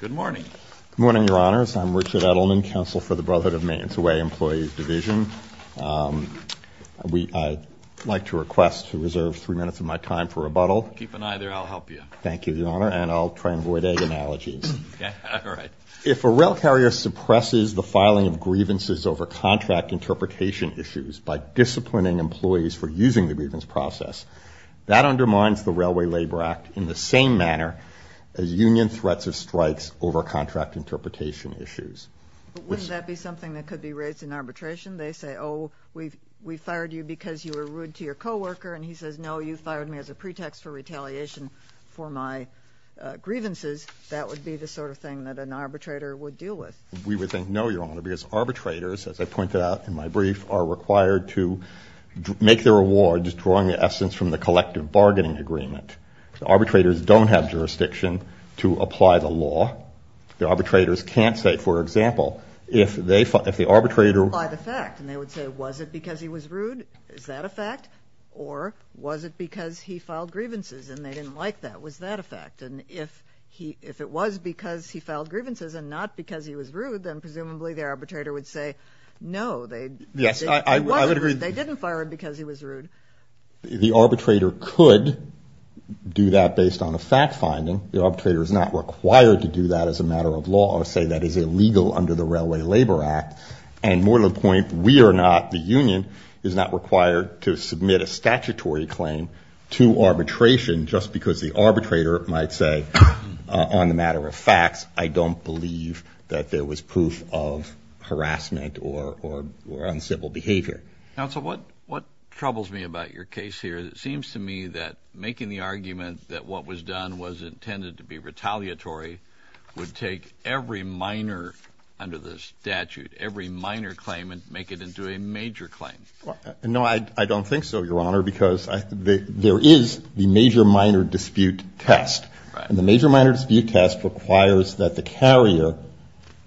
Good morning. Good morning, Your Honors. I'm Richard Edelman, Counsel for the Brd of Maintenance of Way Employees Division. I'd like to request to reserve three minutes of my time for rebuttal. Keep an eye there. I'll help you. Thank you, Your Honor. And I'll try and avoid egg analogies. Okay. All right. If a rail carrier suppresses the filing of grievances over contract interpretation issues by disciplining employees for using the grievance process, that undermines the Railway Labor Act in the same manner as union threats of strikes over contract interpretation issues. Wouldn't that be something that could be raised in arbitration? They say, oh, we fired you because you were rude to your coworker, and he says, no, you fired me as a pretext for retaliation for my grievances. That would be the sort of thing that an arbitrator would deal with. We would think no, Your Honor, because arbitrators, as I pointed out in my brief, are required to make their awards drawing the essence from the collective bargaining agreement. Arbitrators don't have jurisdiction to apply the law. The arbitrators can't say, for example, if the arbitrator- Apply the fact, and they would say, was it because he was rude? Is that a fact? Or was it because he filed grievances and they didn't like that? Was that a fact? No, they- Yes, I would agree- They didn't fire him because he was rude. The arbitrator could do that based on a fact finding. The arbitrator is not required to do that as a matter of law or say that is illegal under the Railway Labor Act. And more to the point, we are not, the union is not required to submit a statutory claim to arbitration just because the arbitrator might say, on the matter of facts, I don't believe that there was proof of harassment or uncivil behavior. Counsel, what troubles me about your case here, it seems to me that making the argument that what was done was intended to be retaliatory would take every minor under the statute, every minor claim, and make it into a major claim. No, I don't think so, Your Honor, because there is the major-minor dispute test. And the major-minor dispute test requires that the carrier,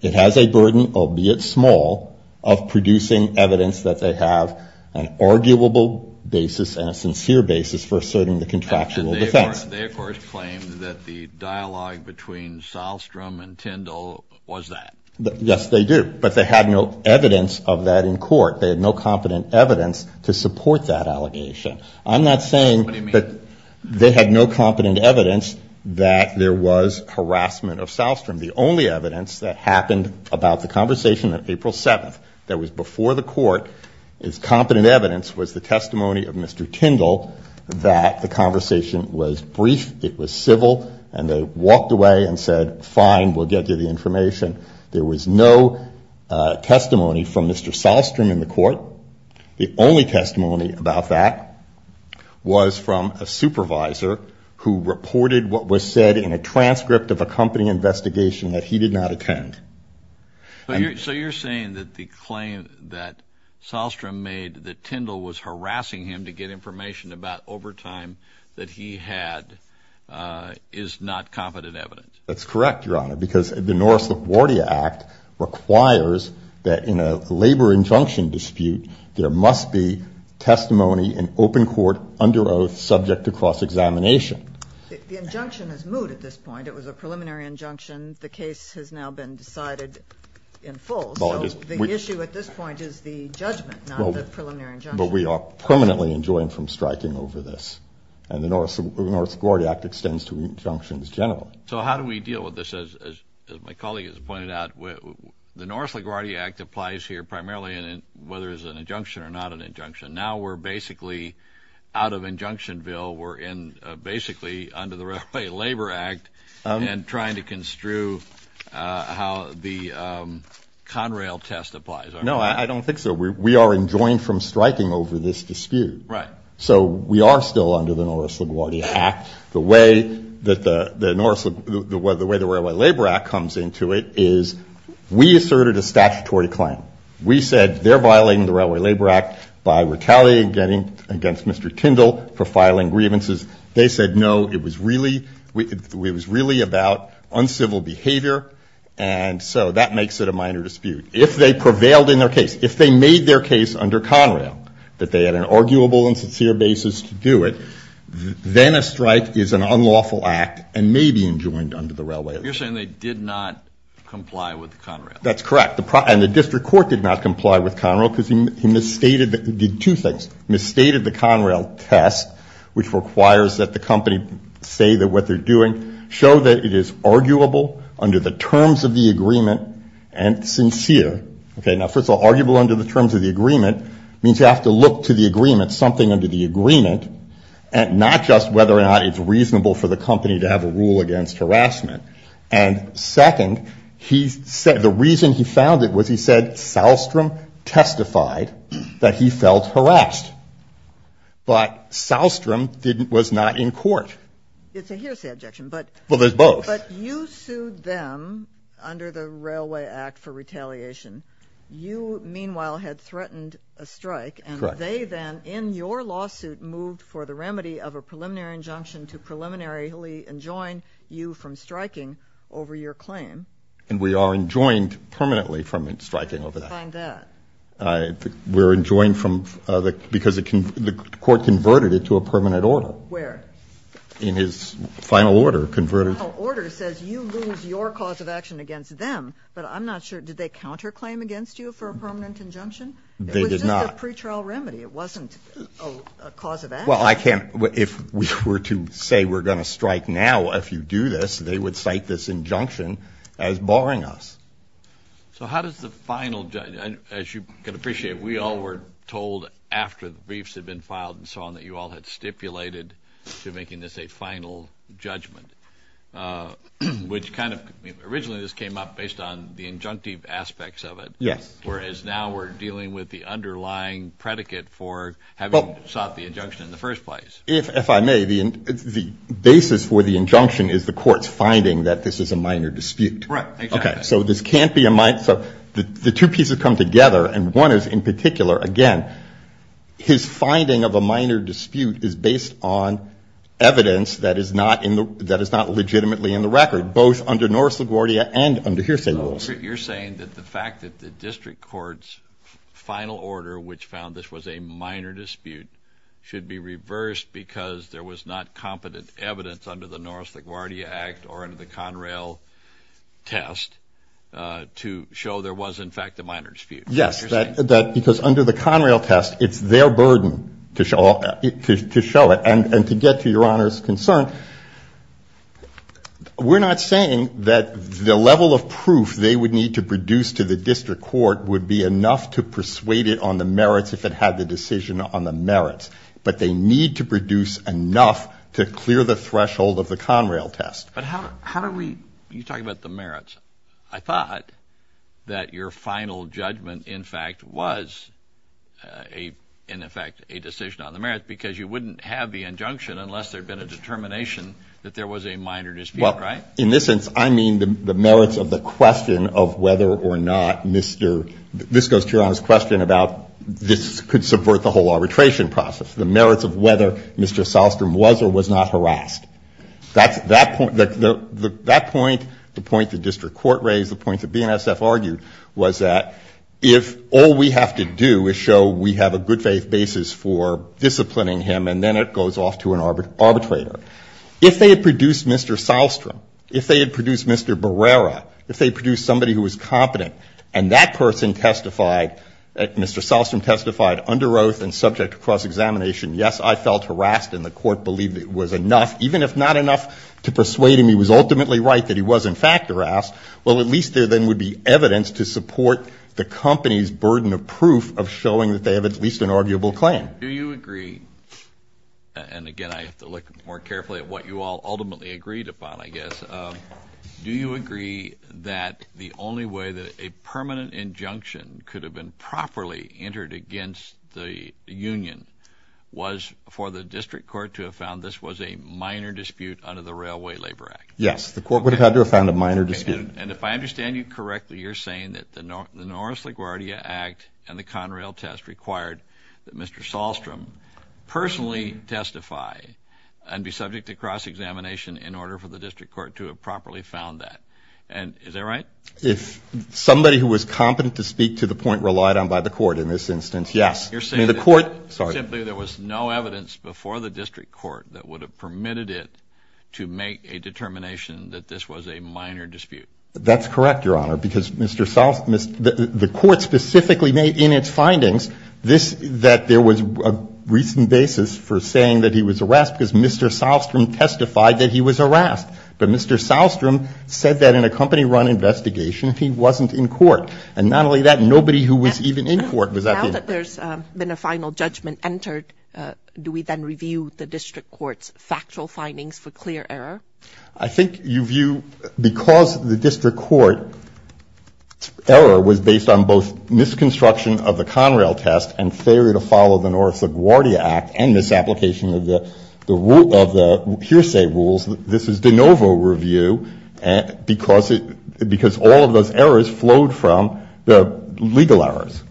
it has a burden, albeit small, of producing evidence that they have an arguable basis and a sincere basis for asserting the contractual defense. And they, of course, claim that the dialogue between Sahlstrom and Tyndall was that. Yes, they do, but they had no evidence of that in court. They had no competent evidence to support that allegation. I'm not saying that they had no competent evidence that there was harassment of Sahlstrom. The only evidence that happened about the conversation on April 7th that was before the court as competent evidence was the testimony of Mr. Tyndall that the conversation was brief, it was civil, and they walked away and said, fine, we'll get you the information. There was no testimony from Mr. Sahlstrom in the court. The only testimony about that was from a supervisor who reported what was said in a transcript of a company investigation that he did not attend. So you're saying that the claim that Sahlstrom made that Tyndall was harassing him to get information about overtime that he had is not competent evidence? That's correct, Your Honor, because the Norris LaGuardia Act requires that in a labor injunction dispute there must be testimony in open court under oath subject to cross-examination. The injunction is moot at this point. It was a preliminary injunction. The case has now been decided in full, so the issue at this point is the judgment, not the preliminary injunction. But we are permanently enjoined from striking over this, and the Norris LaGuardia Act extends to injunctions generally. So how do we deal with this? As my colleague has pointed out, the Norris LaGuardia Act applies here primarily whether it's an injunction or not an injunction. Now we're basically out of injunction bill. We're basically under the Railway Labor Act and trying to construe how the Conrail test applies. No, I don't think so. We are enjoined from striking over this dispute. Right. So we are still under the Norris LaGuardia Act. The way the Railway Labor Act comes into it is we asserted a statutory claim. We said they're violating the Railway Labor Act by retaliating against Mr. Kindle for filing grievances. They said, no, it was really about uncivil behavior, and so that makes it a minor dispute. If they prevailed in their case, if they made their case under Conrail that they had an arguable and sincere basis to do it, then a strike is an unlawful act and may be enjoined under the Railway Act. You're saying they did not comply with Conrail. That's correct. And the district court did not comply with Conrail because he misstated the two things. He misstated the Conrail test, which requires that the company say that what they're doing, show that it is arguable under the terms of the agreement and sincere. Okay. Now, first of all, arguable under the terms of the agreement means you have to look to the agreement, something under the agreement, and not just whether or not it's reasonable for the company to have a rule against harassment. And second, the reason he found it was he said Sahlstrom testified that he felt harassed. But Sahlstrom was not in court. So here's the objection. Well, there's both. But you sued them under the Railway Act for retaliation. You, meanwhile, had threatened a strike. Correct. And they then, in your lawsuit, moved for the remedy of a preliminary injunction to preliminarily enjoin you from striking over your claim. And we are enjoined permanently from striking over that. I find that. We're enjoined because the court converted it to a permanent order. Where? In his final order, converted. His final order says you lose your cause of action against them. But I'm not sure, did they counterclaim against you for a permanent injunction? They did not. It was just a pretrial remedy. It wasn't a cause of action. Well, I can't, if we were to say we're going to strike now if you do this, they would cite this injunction as barring us. So how does the final, as you can appreciate, we all were told after the briefs had been filed and so on that you all had stipulated to making this a final judgment, which kind of originally this came up based on the injunctive aspects of it. Yes. Whereas now we're dealing with the underlying predicate for having sought the injunction in the first place. If I may, the basis for the injunction is the court's finding that this is a minor dispute. Right. Okay. So this can't be a minor. So the two pieces come together. And one is in particular, again, his finding of a minor dispute is based on evidence that is not in the, that is not legitimately in the record, both under Norris LaGuardia and under hearsay rules. You're saying that the fact that the district court's final order, which found this was a minor dispute should be reversed because there was not competent evidence under the Norris LaGuardia Act or under the Conrail test to show there was in fact a minor dispute. Yes. Because under the Conrail test, it's their burden to show it and to get to your Honor's concern. We're not saying that the level of proof they would need to produce to the district court would be enough to persuade it on the merits if it had the decision on the merits, but they need to produce enough to clear the threshold of the Conrail test. But how, how do we, you talk about the merits. I thought that your final judgment in fact was a, in effect a decision on the merits because you wouldn't have the injunction unless there'd been a determination that there was a minor dispute. Right. In this sense, I mean the merits of the question of whether or not Mr. This goes to your Honor's question about this could subvert the whole arbitration process. The merits of whether Mr. Sahlstrom was or was not harassed. That's that point. The point the district court raised, the point that BNSF argued was that if all we have to do is show we have a good faith basis for disciplining him and then it goes off to an arbitrator. If they had produced Mr. Sahlstrom, if they had produced Mr. Barrera, if they produced somebody who was competent and that person testified, Mr. Sahlstrom testified under oath and subject to cross-examination, yes, I felt harassed and the court believed it was enough, even if not enough to persuade him he was ultimately right that he was in fact harassed, well at least there then would be evidence to support the company's burden of proof of showing that they have at least an arguable claim. Do you agree, and again I have to look more carefully at what you all ultimately agreed upon I guess, do you agree that the only way that a permanent injunction could have been properly entered against the union was for the district court to have found this was a minor dispute under the Railway Labor Act? Yes, the court would have had to have found a minor dispute. And if I understand you correctly, you're saying that the Norris LaGuardia Act and the Conrail Test required that Mr. Sahlstrom personally testify and be subject to cross-examination in order for the district court to have properly found that. Is that right? If somebody who was competent to speak to the point relied on by the court in this instance, yes. You're saying simply there was no evidence before the district court that would have permitted it to make a determination that this was a minor dispute. That's correct, Your Honor, because Mr. Sahlstrom, the court specifically made in its findings that there was a recent basis for saying that he was harassed because Mr. Sahlstrom testified that he was harassed. But Mr. Sahlstrom said that in a company run investigation he wasn't in court. And not only that, nobody who was even in court was at the inn. Now that there's been a final judgment entered, do we then review the district court's factual findings for clear error? I think you view because the district court error was based on both misconstruction of the Conrail Test and failure to follow the Norris LaGuardia Act and misapplication of the hearsay rules, this is de novo review because all of those errors flowed from the legal errors.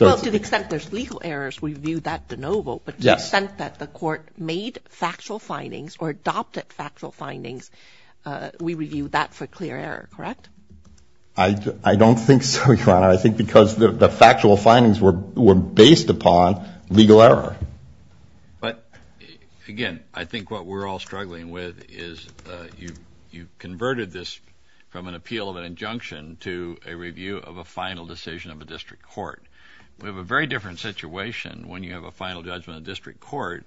Well, to the extent there's legal errors, we view that de novo. But to the extent that the court made factual findings or adopted factual findings, we review that for clear error, correct? I don't think so, Your Honor. I think because the factual findings were based upon legal error. But, again, I think what we're all struggling with is you've converted this from an We have a very different situation when you have a final judgment in the district court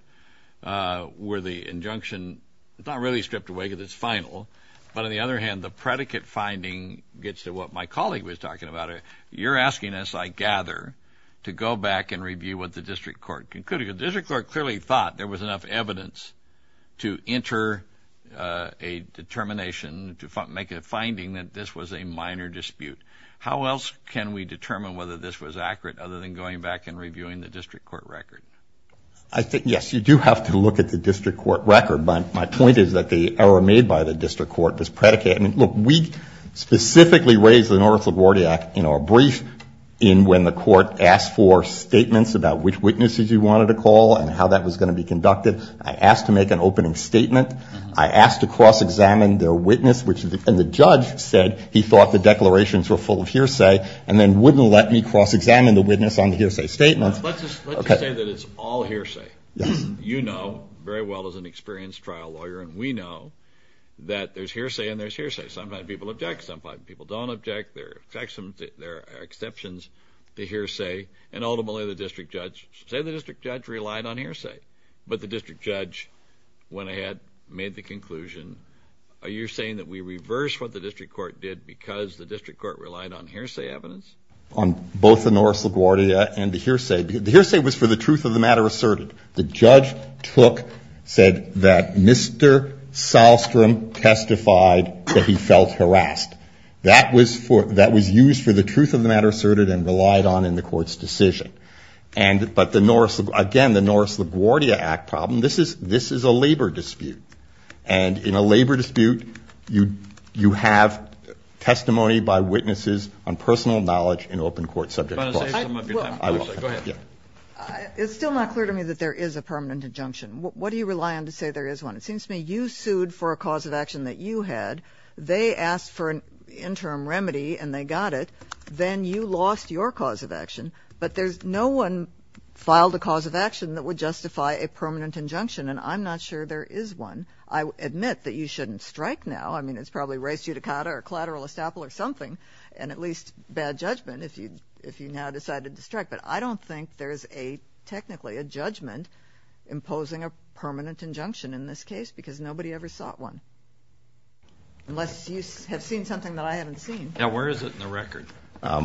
where the injunction is not really stripped away because it's final. But on the other hand, the predicate finding gets to what my colleague was talking about. You're asking us, I gather, to go back and review what the district court concluded. The district court clearly thought there was enough evidence to enter a determination, to make a finding that this was a minor dispute. How else can we determine whether this was accurate other than going back and reviewing the district court record? I think, yes, you do have to look at the district court record. But my point is that the error made by the district court, this predicate, I mean, look, we specifically raised the North LaGuardia Act in our brief in when the court asked for statements about which witnesses you wanted to call and how that was going to be conducted. I asked to make an opening statement. I asked to cross-examine their witness. And the judge said he thought the declarations were full of hearsay and then wouldn't let me cross-examine the witness on the hearsay statements. Let's just say that it's all hearsay. You know very well as an experienced trial lawyer, and we know that there's hearsay and there's hearsay. Sometimes people object. Sometimes people don't object. There are exceptions to hearsay. And ultimately the district judge relied on hearsay. But the district judge went ahead, made the conclusion, are you saying that we reverse what the district court did because the district court relied on hearsay evidence? On both the North LaGuardia and the hearsay. The hearsay was for the truth of the matter asserted. The judge said that Mr. Sahlstrom testified that he felt harassed. That was used for the truth of the matter asserted and relied on in the court's decision. But, again, the North LaGuardia Act problem, this is a labor dispute. And in a labor dispute, you have testimony by witnesses on personal knowledge in open court subject to cross-examination. It's still not clear to me that there is a permanent injunction. What do you rely on to say there is one? It seems to me you sued for a cause of action that you had. They asked for an interim remedy, and they got it. Then you lost your cause of action. But no one filed a cause of action that would justify a permanent injunction, and I'm not sure there is one. I admit that you shouldn't strike now. I mean, it's probably res judicata or collateral estoppel or something, and at least bad judgment if you now decided to strike. But I don't think there is technically a judgment imposing a permanent injunction in this case because nobody ever sought one, unless you have seen something that I haven't seen. Now, where is it in the record? I'll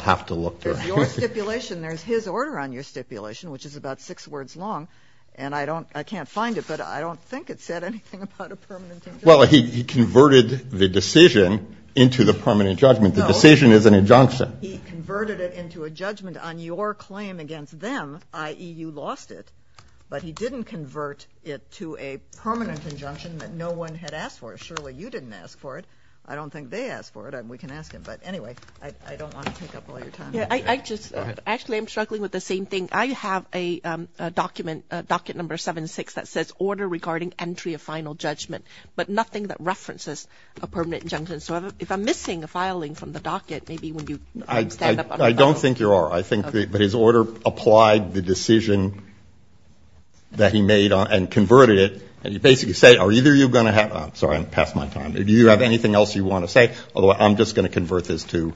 have to look. It's your stipulation. There's his order on your stipulation, which is about six words long, and I can't find it, but I don't think it said anything about a permanent injunction. Well, he converted the decision into the permanent judgment. The decision is an injunction. He converted it into a judgment on your claim against them, i.e., you lost it, but he didn't convert it to a permanent injunction that no one had asked for. Surely you didn't ask for it. I don't think they asked for it. We can ask him. But anyway, I don't want to take up all your time. Actually, I'm struggling with the same thing. I have a document, docket number 7-6, that says order regarding entry of final judgment, but nothing that references a permanent injunction. So if I'm missing a filing from the docket, maybe when you stand up on the panel. I don't think you are. I think that his order applied the decision that he made and converted it, and you basically say, are either of you going to have – sorry, I'm past my time. Do you have anything else you want to say? Otherwise, I'm just going to convert this to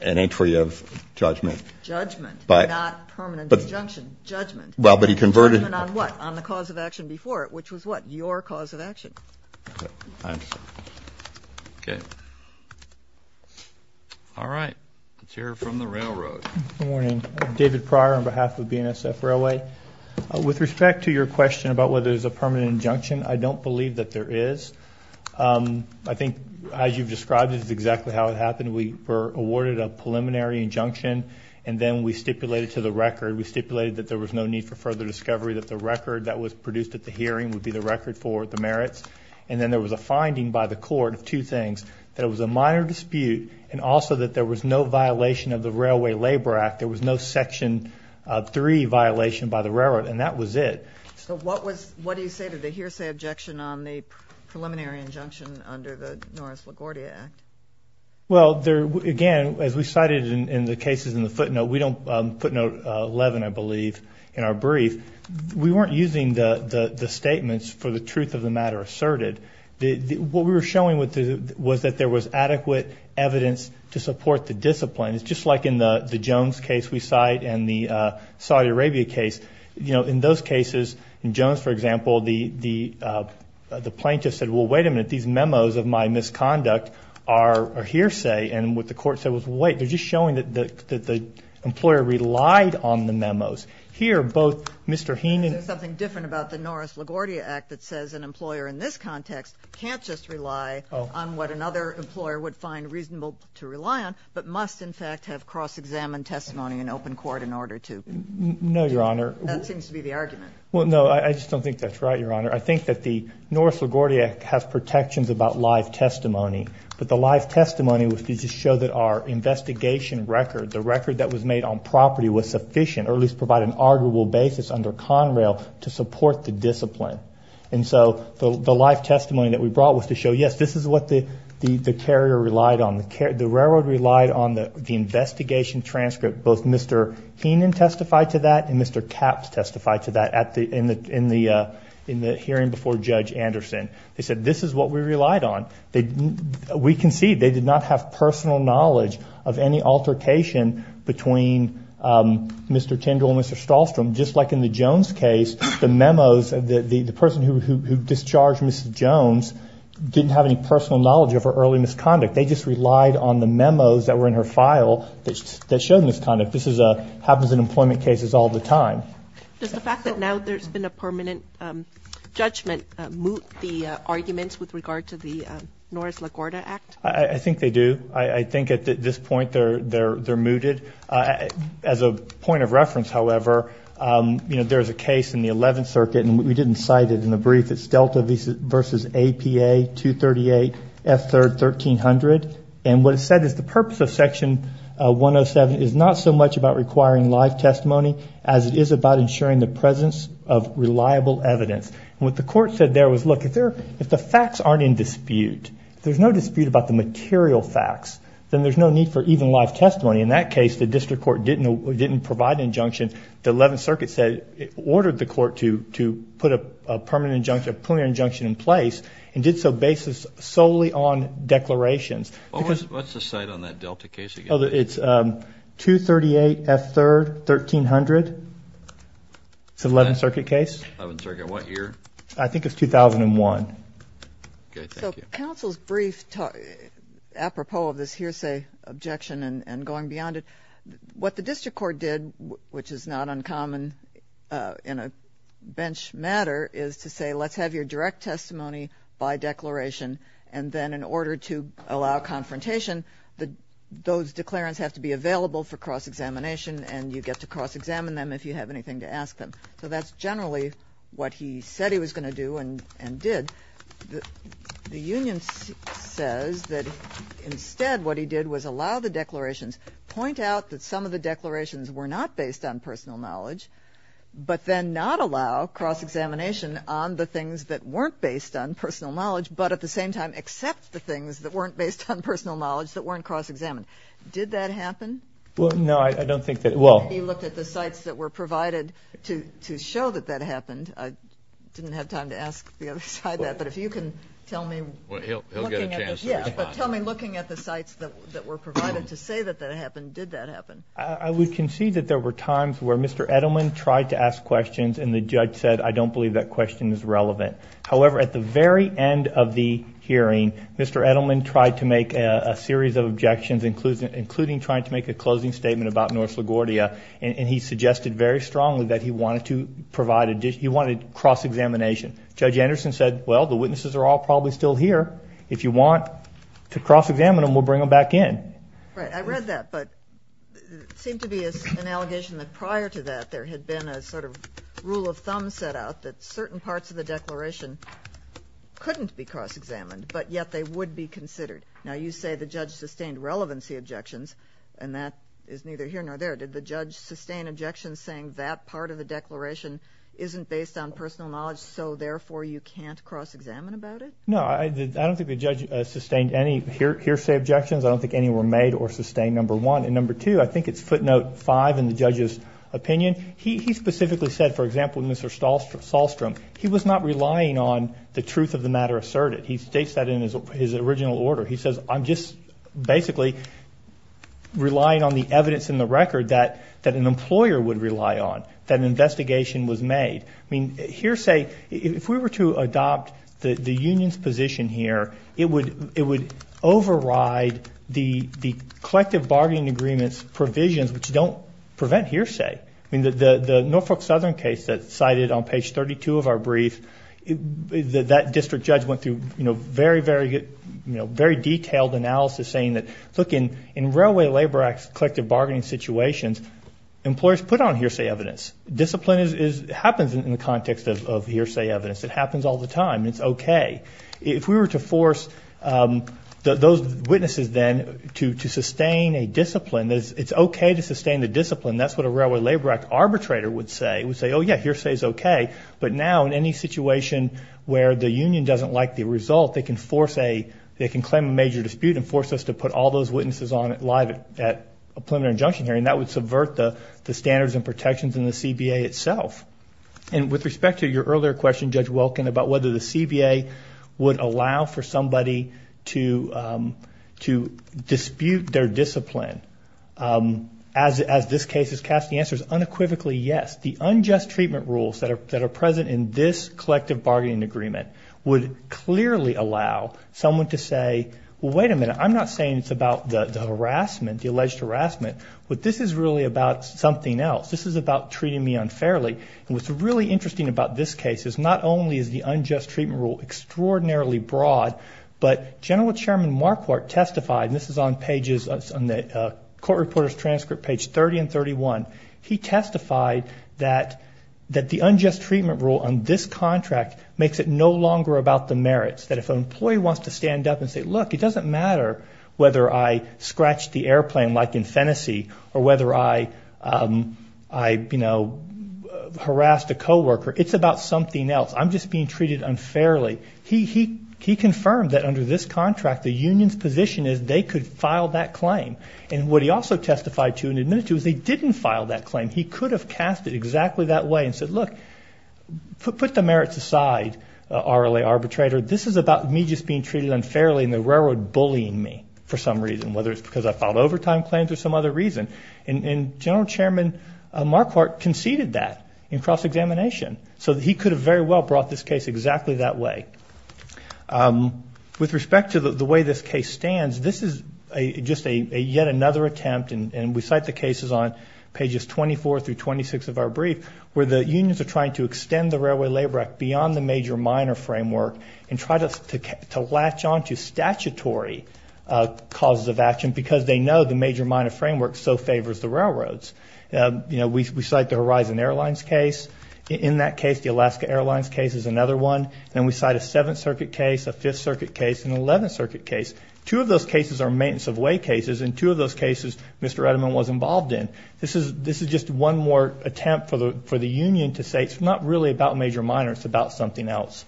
an entry of judgment. Judgment, not permanent judgment. Permanent injunction. Judgment. Judgment on what? On the cause of action before it, which was what? Your cause of action. All right. Let's hear it from the railroad. Good morning. David Pryor on behalf of BNSF Railway. With respect to your question about whether there's a permanent injunction, I don't believe that there is. I think, as you've described, this is exactly how it happened. We were awarded a preliminary injunction, and then we stipulated to the record, we stipulated that there was no need for further discovery, that the record that was produced at the hearing would be the record for the merits. And then there was a finding by the court of two things, that it was a minor dispute and also that there was no violation of the Railway Labor Act. There was no Section 3 violation by the railroad, and that was it. So what was – what do you say to the hearsay objection on the preliminary injunction under the Norris-LaGuardia Act? Well, again, as we cited in the cases in the footnote, we don't – footnote 11, I believe, in our brief. We weren't using the statements for the truth of the matter asserted. What we were showing was that there was adequate evidence to support the discipline. It's just like in the Jones case we cite and the Saudi Arabia case. You know, in those cases, in Jones, for example, the plaintiff said, well, wait a minute, these memos of my misconduct are hearsay. And what the court said was, wait, they're just showing that the employer relied on the memos. Here, both Mr. Heenan – There's something different about the Norris-LaGuardia Act that says an employer in this context can't just rely on what another employer would find reasonable to rely on but must, in fact, have cross-examined testimony in open court in order to – No, Your Honor. That seems to be the argument. Well, no, I just don't think that's right, Your Honor. I think that the Norris-LaGuardia Act has protections about live testimony, but the live testimony was to just show that our investigation record, the record that was made on property, was sufficient or at least provided an arguable basis under Conrail to support the discipline. And so the live testimony that we brought was to show, yes, this is what the carrier relied on. The railroad relied on the investigation transcript. Both Mr. Heenan testified to that and Mr. Capps testified to that in the hearing before Judge Anderson. They said, this is what we relied on. We concede they did not have personal knowledge of any altercation between Mr. Tindall and Mr. Stahlstrom. Just like in the Jones case, the memos, the person who discharged Mrs. Jones didn't have any personal knowledge of her early misconduct. They just relied on the memos that were in her file that showed misconduct. This happens in employment cases all the time. Does the fact that now there's been a permanent judgment moot the arguments with regard to the Norris-LaGuardia Act? I think they do. I think at this point they're mooted. As a point of reference, however, you know, there's a case in the 11th Circuit, and we didn't cite it in the brief. It's Delta v. APA, 238, F3rd, 1300. And what it said is the purpose of Section 107 is not so much about requiring live testimony as it is about ensuring the presence of reliable evidence. And what the court said there was, look, if the facts aren't in dispute, if there's no dispute about the material facts, then there's no need for even live testimony. In that case, the district court didn't provide an injunction. The 11th Circuit ordered the court to put a permanent injunction in place and did so based solely on declarations. What's the site on that Delta case again? It's 238, F3rd, 1300. It's an 11th Circuit case. 11th Circuit. What year? I think it's 2001. Okay, thank you. So counsel's brief, apropos of this hearsay objection and going beyond it, what the district court did, which is not uncommon in a bench matter, is to say let's have your direct testimony by declaration, and then in order to allow confrontation, those declarants have to be available for cross-examination and you get to cross-examine them if you have anything to ask them. So that's generally what he said he was going to do and did. The union says that instead what he did was allow the declarations, point out that some of the declarations were not based on personal knowledge, but then not allow cross-examination on the things that weren't based on personal knowledge that weren't cross-examined. Did that happen? No, I don't think that, well. He looked at the sites that were provided to show that that happened. I didn't have time to ask the other side that, but if you can tell me. He'll get a chance. Yeah, but tell me looking at the sites that were provided to say that that happened, did that happen? I would concede that there were times where Mr. Edelman tried to ask questions and the judge said, I don't believe that question is relevant. However, at the very end of the hearing, Mr. Edelman tried to make a series of objections, including trying to make a closing statement about North LaGuardia, and he suggested very strongly that he wanted to provide, he wanted cross-examination. Judge Anderson said, well, the witnesses are all probably still here. If you want to cross-examine them, we'll bring them back in. Right, I read that, but it seemed to be an allegation that prior to that there had been a sort of rule of thumb set out that certain parts of the declaration couldn't be cross-examined, but yet they would be considered. Now you say the judge sustained relevancy objections, and that is neither here nor there. Did the judge sustain objections saying that part of the declaration isn't based on personal knowledge, so therefore you can't cross-examine about it? No, I don't think the judge sustained any hearsay objections. I don't think any were made or sustained, number one. And number two, I think it's footnote five in the judge's opinion. He specifically said, for example, Mr. Sahlstrom, he was not relying on the truth of the matter asserted. He states that in his original order. He says I'm just basically relying on the evidence in the record that an employer would rely on, that an investigation was made. I mean, hearsay, if we were to adopt the union's position here, it would override the collective bargaining agreement's provisions, which don't prevent hearsay. I mean, the Norfolk Southern case that's cited on page 32 of our brief, that district judge went through, you know, very, very detailed analysis saying that, look, in railway labor collective bargaining situations, employers put on hearsay evidence. Discipline happens in the context of hearsay evidence. It happens all the time. It's okay. If we were to force those witnesses then to sustain a discipline, it's okay to sustain the discipline. That's what a Railway Labor Act arbitrator would say. He would say, oh, yeah, hearsay is okay. But now in any situation where the union doesn't like the result, they can claim a major dispute and force us to put all those witnesses on it live at a preliminary injunction hearing. That would subvert the standards and protections in the CBA itself. And with respect to your earlier question, Judge Welkin, about whether the CBA would allow for somebody to dispute their discipline, as this case is cast, the answer is unequivocally yes. The unjust treatment rules that are present in this collective bargaining agreement would clearly allow someone to say, well, wait a minute, I'm not saying it's about the harassment, the alleged harassment, but this is really about something else. This is about treating me unfairly. And what's really interesting about this case is not only is the unjust treatment rule extraordinarily broad, but General Chairman Marquardt testified, and this is on the court reporter's transcript page 30 and 31, he testified that the unjust treatment rule on this contract makes it no longer about the merits, that if an employee wants to stand up and say, look, it doesn't matter whether I scratched the airplane like in Phenasy or whether I harassed a co-worker, it's about something else. I'm just being treated unfairly. He confirmed that under this contract the union's position is they could file that claim. And what he also testified to and admitted to is they didn't file that claim. He could have cast it exactly that way and said, look, put the merits aside, RLA arbitrator, this is about me just being treated unfairly and the railroad bullying me for some reason, whether it's because I filed overtime claims or some other reason. And General Chairman Marquardt conceded that in cross-examination. So he could have very well brought this case exactly that way. With respect to the way this case stands, this is just yet another attempt, and we cite the cases on pages 24 through 26 of our brief where the unions are trying to extend the Railway Labor Act beyond the major-minor framework and try to latch on to statutory causes of action because they know the major- minor framework so favors the railroads. We cite the Horizon Airlines case. In that case, the Alaska Airlines case is another one. Then we cite a Seventh Circuit case, a Fifth Circuit case, and an Eleventh Circuit case. Two of those cases are maintenance-of-way cases, and two of those cases Mr. Edelman was involved in. This is just one more attempt for the union to say it's not really about major-minor, it's about something else.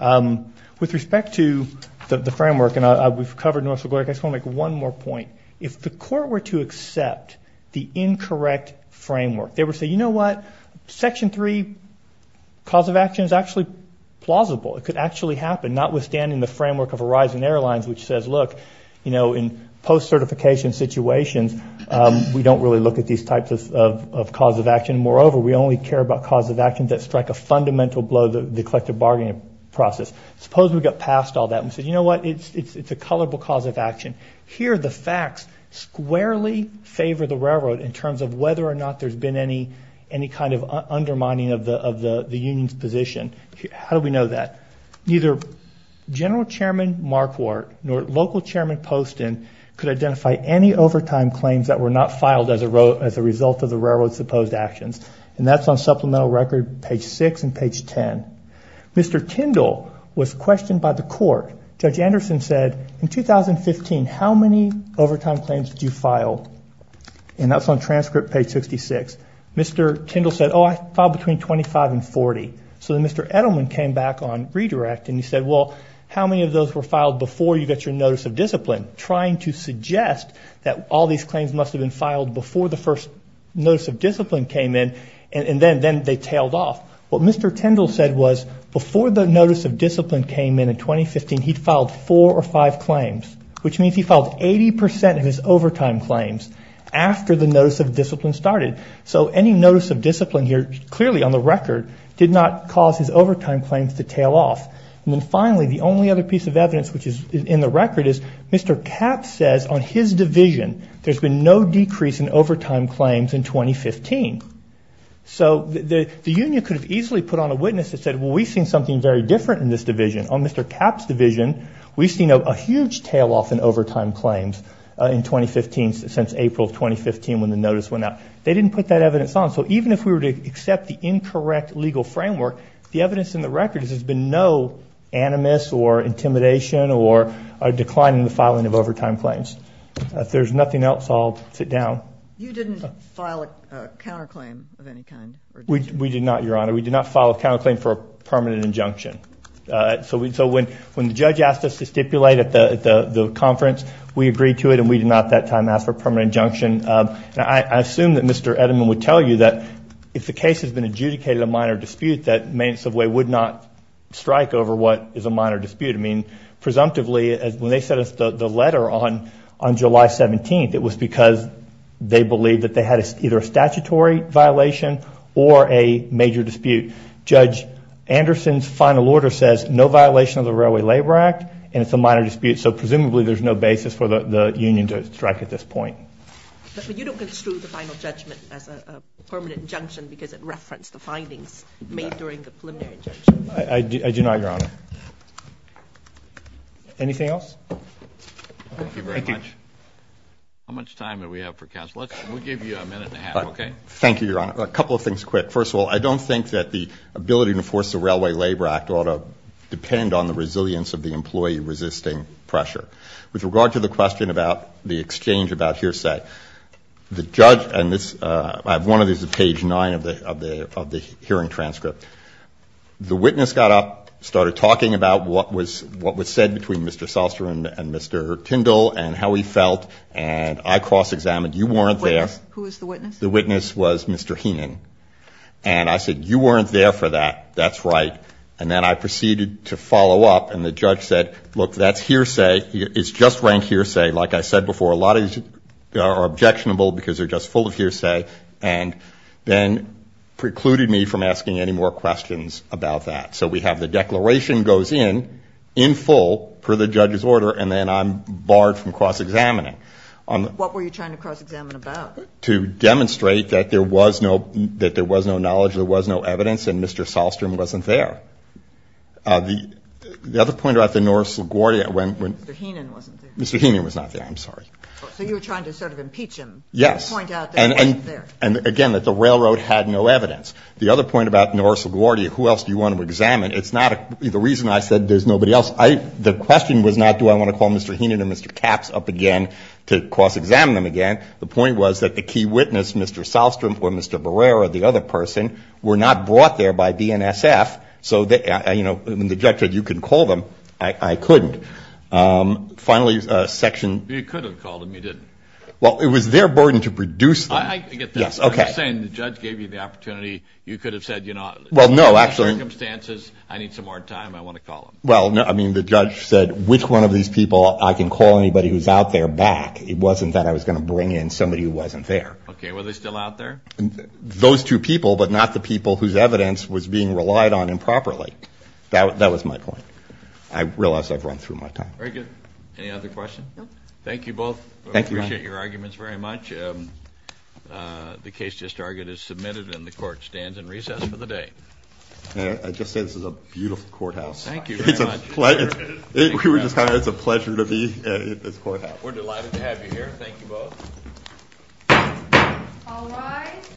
With respect to the framework, and we've covered North Dakota, I just want to make one more point. If the court were to accept the incorrect framework, they would say, you know what, Section 3 cause of action is actually plausible. It could actually happen, notwithstanding the framework of Horizon Airlines which says, look, you know, in post-certification situations, we don't really look at these types of cause of action. Moreover, we only care about cause of action that strike a fundamental blow to the collective bargaining process. Suppose we got past all that and said, you know what, it's a colorable cause of action. Here the facts squarely favor the railroad in terms of whether or not there's been any kind of undermining of the union's position. How do we know that? Neither General Chairman Marquardt nor local Chairman Poston could identify any overtime claims that were not filed as a result of the railroad's supposed actions, and that's on supplemental record page 6 and page 10. Mr. Tyndall was questioned by the court. Judge Anderson said, in 2015, how many overtime claims did you file? And that's on transcript page 66. Mr. Tyndall said, oh, I filed between 25 and 40. So then Mr. Edelman came back on redirect and he said, well, how many of those were filed before you got your notice of discipline, trying to suggest that all these claims must have been filed before the first notice of discipline came in, and then they tailed off. What Mr. Tyndall said was, before the notice of discipline came in in 2015, he'd filed four or five claims, which means he filed 80 percent of his overtime claims after the notice of discipline started. So any notice of discipline here, clearly on the record, did not cause his overtime claims to tail off. And then finally, the only other piece of evidence which is in the record is Mr. Kapp says on his division there's been no decrease in overtime claims in 2015. So the union could have easily put on a witness that said, well, we've seen something very different in this division. On Mr. Kapp's division, we've seen a huge tail off in overtime claims in 2015 since April of 2015 when the notice went out. They didn't put that evidence on. So even if we were to accept the incorrect legal framework, the evidence in the record is there's been no animus or intimidation or decline in the filing of overtime claims. If there's nothing else, I'll sit down. You didn't file a counterclaim of any kind? We did not, Your Honor. We did not file a counterclaim for a permanent injunction. So when the judge asked us to stipulate at the conference, we agreed to it, and we did not at that time ask for a permanent injunction. I assume that Mr. Edelman would tell you that if the case has been adjudicated in a minor dispute that Main and Subway would not strike over what is a minor dispute. I mean, presumptively, when they sent us the letter on July 17th, it was because they believed that they had either a statutory violation or a major dispute. Judge Anderson's final order says no violation of the Railway Labor Act, and it's a minor dispute. So presumably there's no basis for the union to strike at this point. But you don't construe the final judgment as a permanent injunction because it referenced the findings made during the preliminary injunction. I do not, Your Honor. Anything else? Thank you very much. How much time do we have for counsel? We'll give you a minute and a half, okay? Thank you, Your Honor. A couple of things quick. First of all, I don't think that the ability to enforce the Railway Labor Act ought to depend on the resilience of the employee resisting pressure. With regard to the question about the exchange about hearsay, the judge and this one of these is page 9 of the hearing transcript. The witness got up, started talking about what was said between Mr. Soster and Mr. Tyndall and how he felt, and I cross-examined. You weren't there. Who was the witness? The witness was Mr. Heenan. And I said, you weren't there for that. That's right. And then I proceeded to follow up, and the judge said, look, that's hearsay. It's just rank hearsay. Like I said before, a lot of these are objectionable because they're just full of hearsay. And then precluded me from asking any more questions about that. So we have the declaration goes in, in full, per the judge's order, and then I'm barred from cross-examining. What were you trying to cross-examine about? To demonstrate that there was no knowledge, there was no evidence, and Mr. Solstrom wasn't there. The other point about the Norris LaGuardia. Mr. Heenan wasn't there. Mr. Heenan was not there. I'm sorry. So you were trying to sort of impeach him. Yes. To point out that he wasn't there. And, again, that the railroad had no evidence. The other point about Norris LaGuardia, who else do you want to examine? It's not the reason I said there's nobody else. The question was not do I want to call Mr. Heenan and Mr. Capps up again. To cross-examine them again, the point was that the key witness, Mr. Solstrom or Mr. Barrera, the other person, were not brought there by BNSF. So, you know, the judge said you can call them. I couldn't. Finally, section. You could have called them. You didn't. Well, it was their burden to produce them. I get this. I'm saying the judge gave you the opportunity. You could have said, you know, circumstances, I need some more time. I want to call them. Well, I mean, the judge said, which one of these people I can call anybody who's out there back. It wasn't that I was going to bring in somebody who wasn't there. Okay. Were they still out there? Those two people, but not the people whose evidence was being relied on improperly. That was my point. I realize I've run through my time. Very good. Any other questions? No. Thank you both. Thank you. We appreciate your arguments very much. The case just argued is submitted, and the court stands in recess for the day. I just say this is a beautiful courthouse. Thank you very much. It's a pleasure to be in this courthouse. We're delighted to have you here. Thank you both. All rise.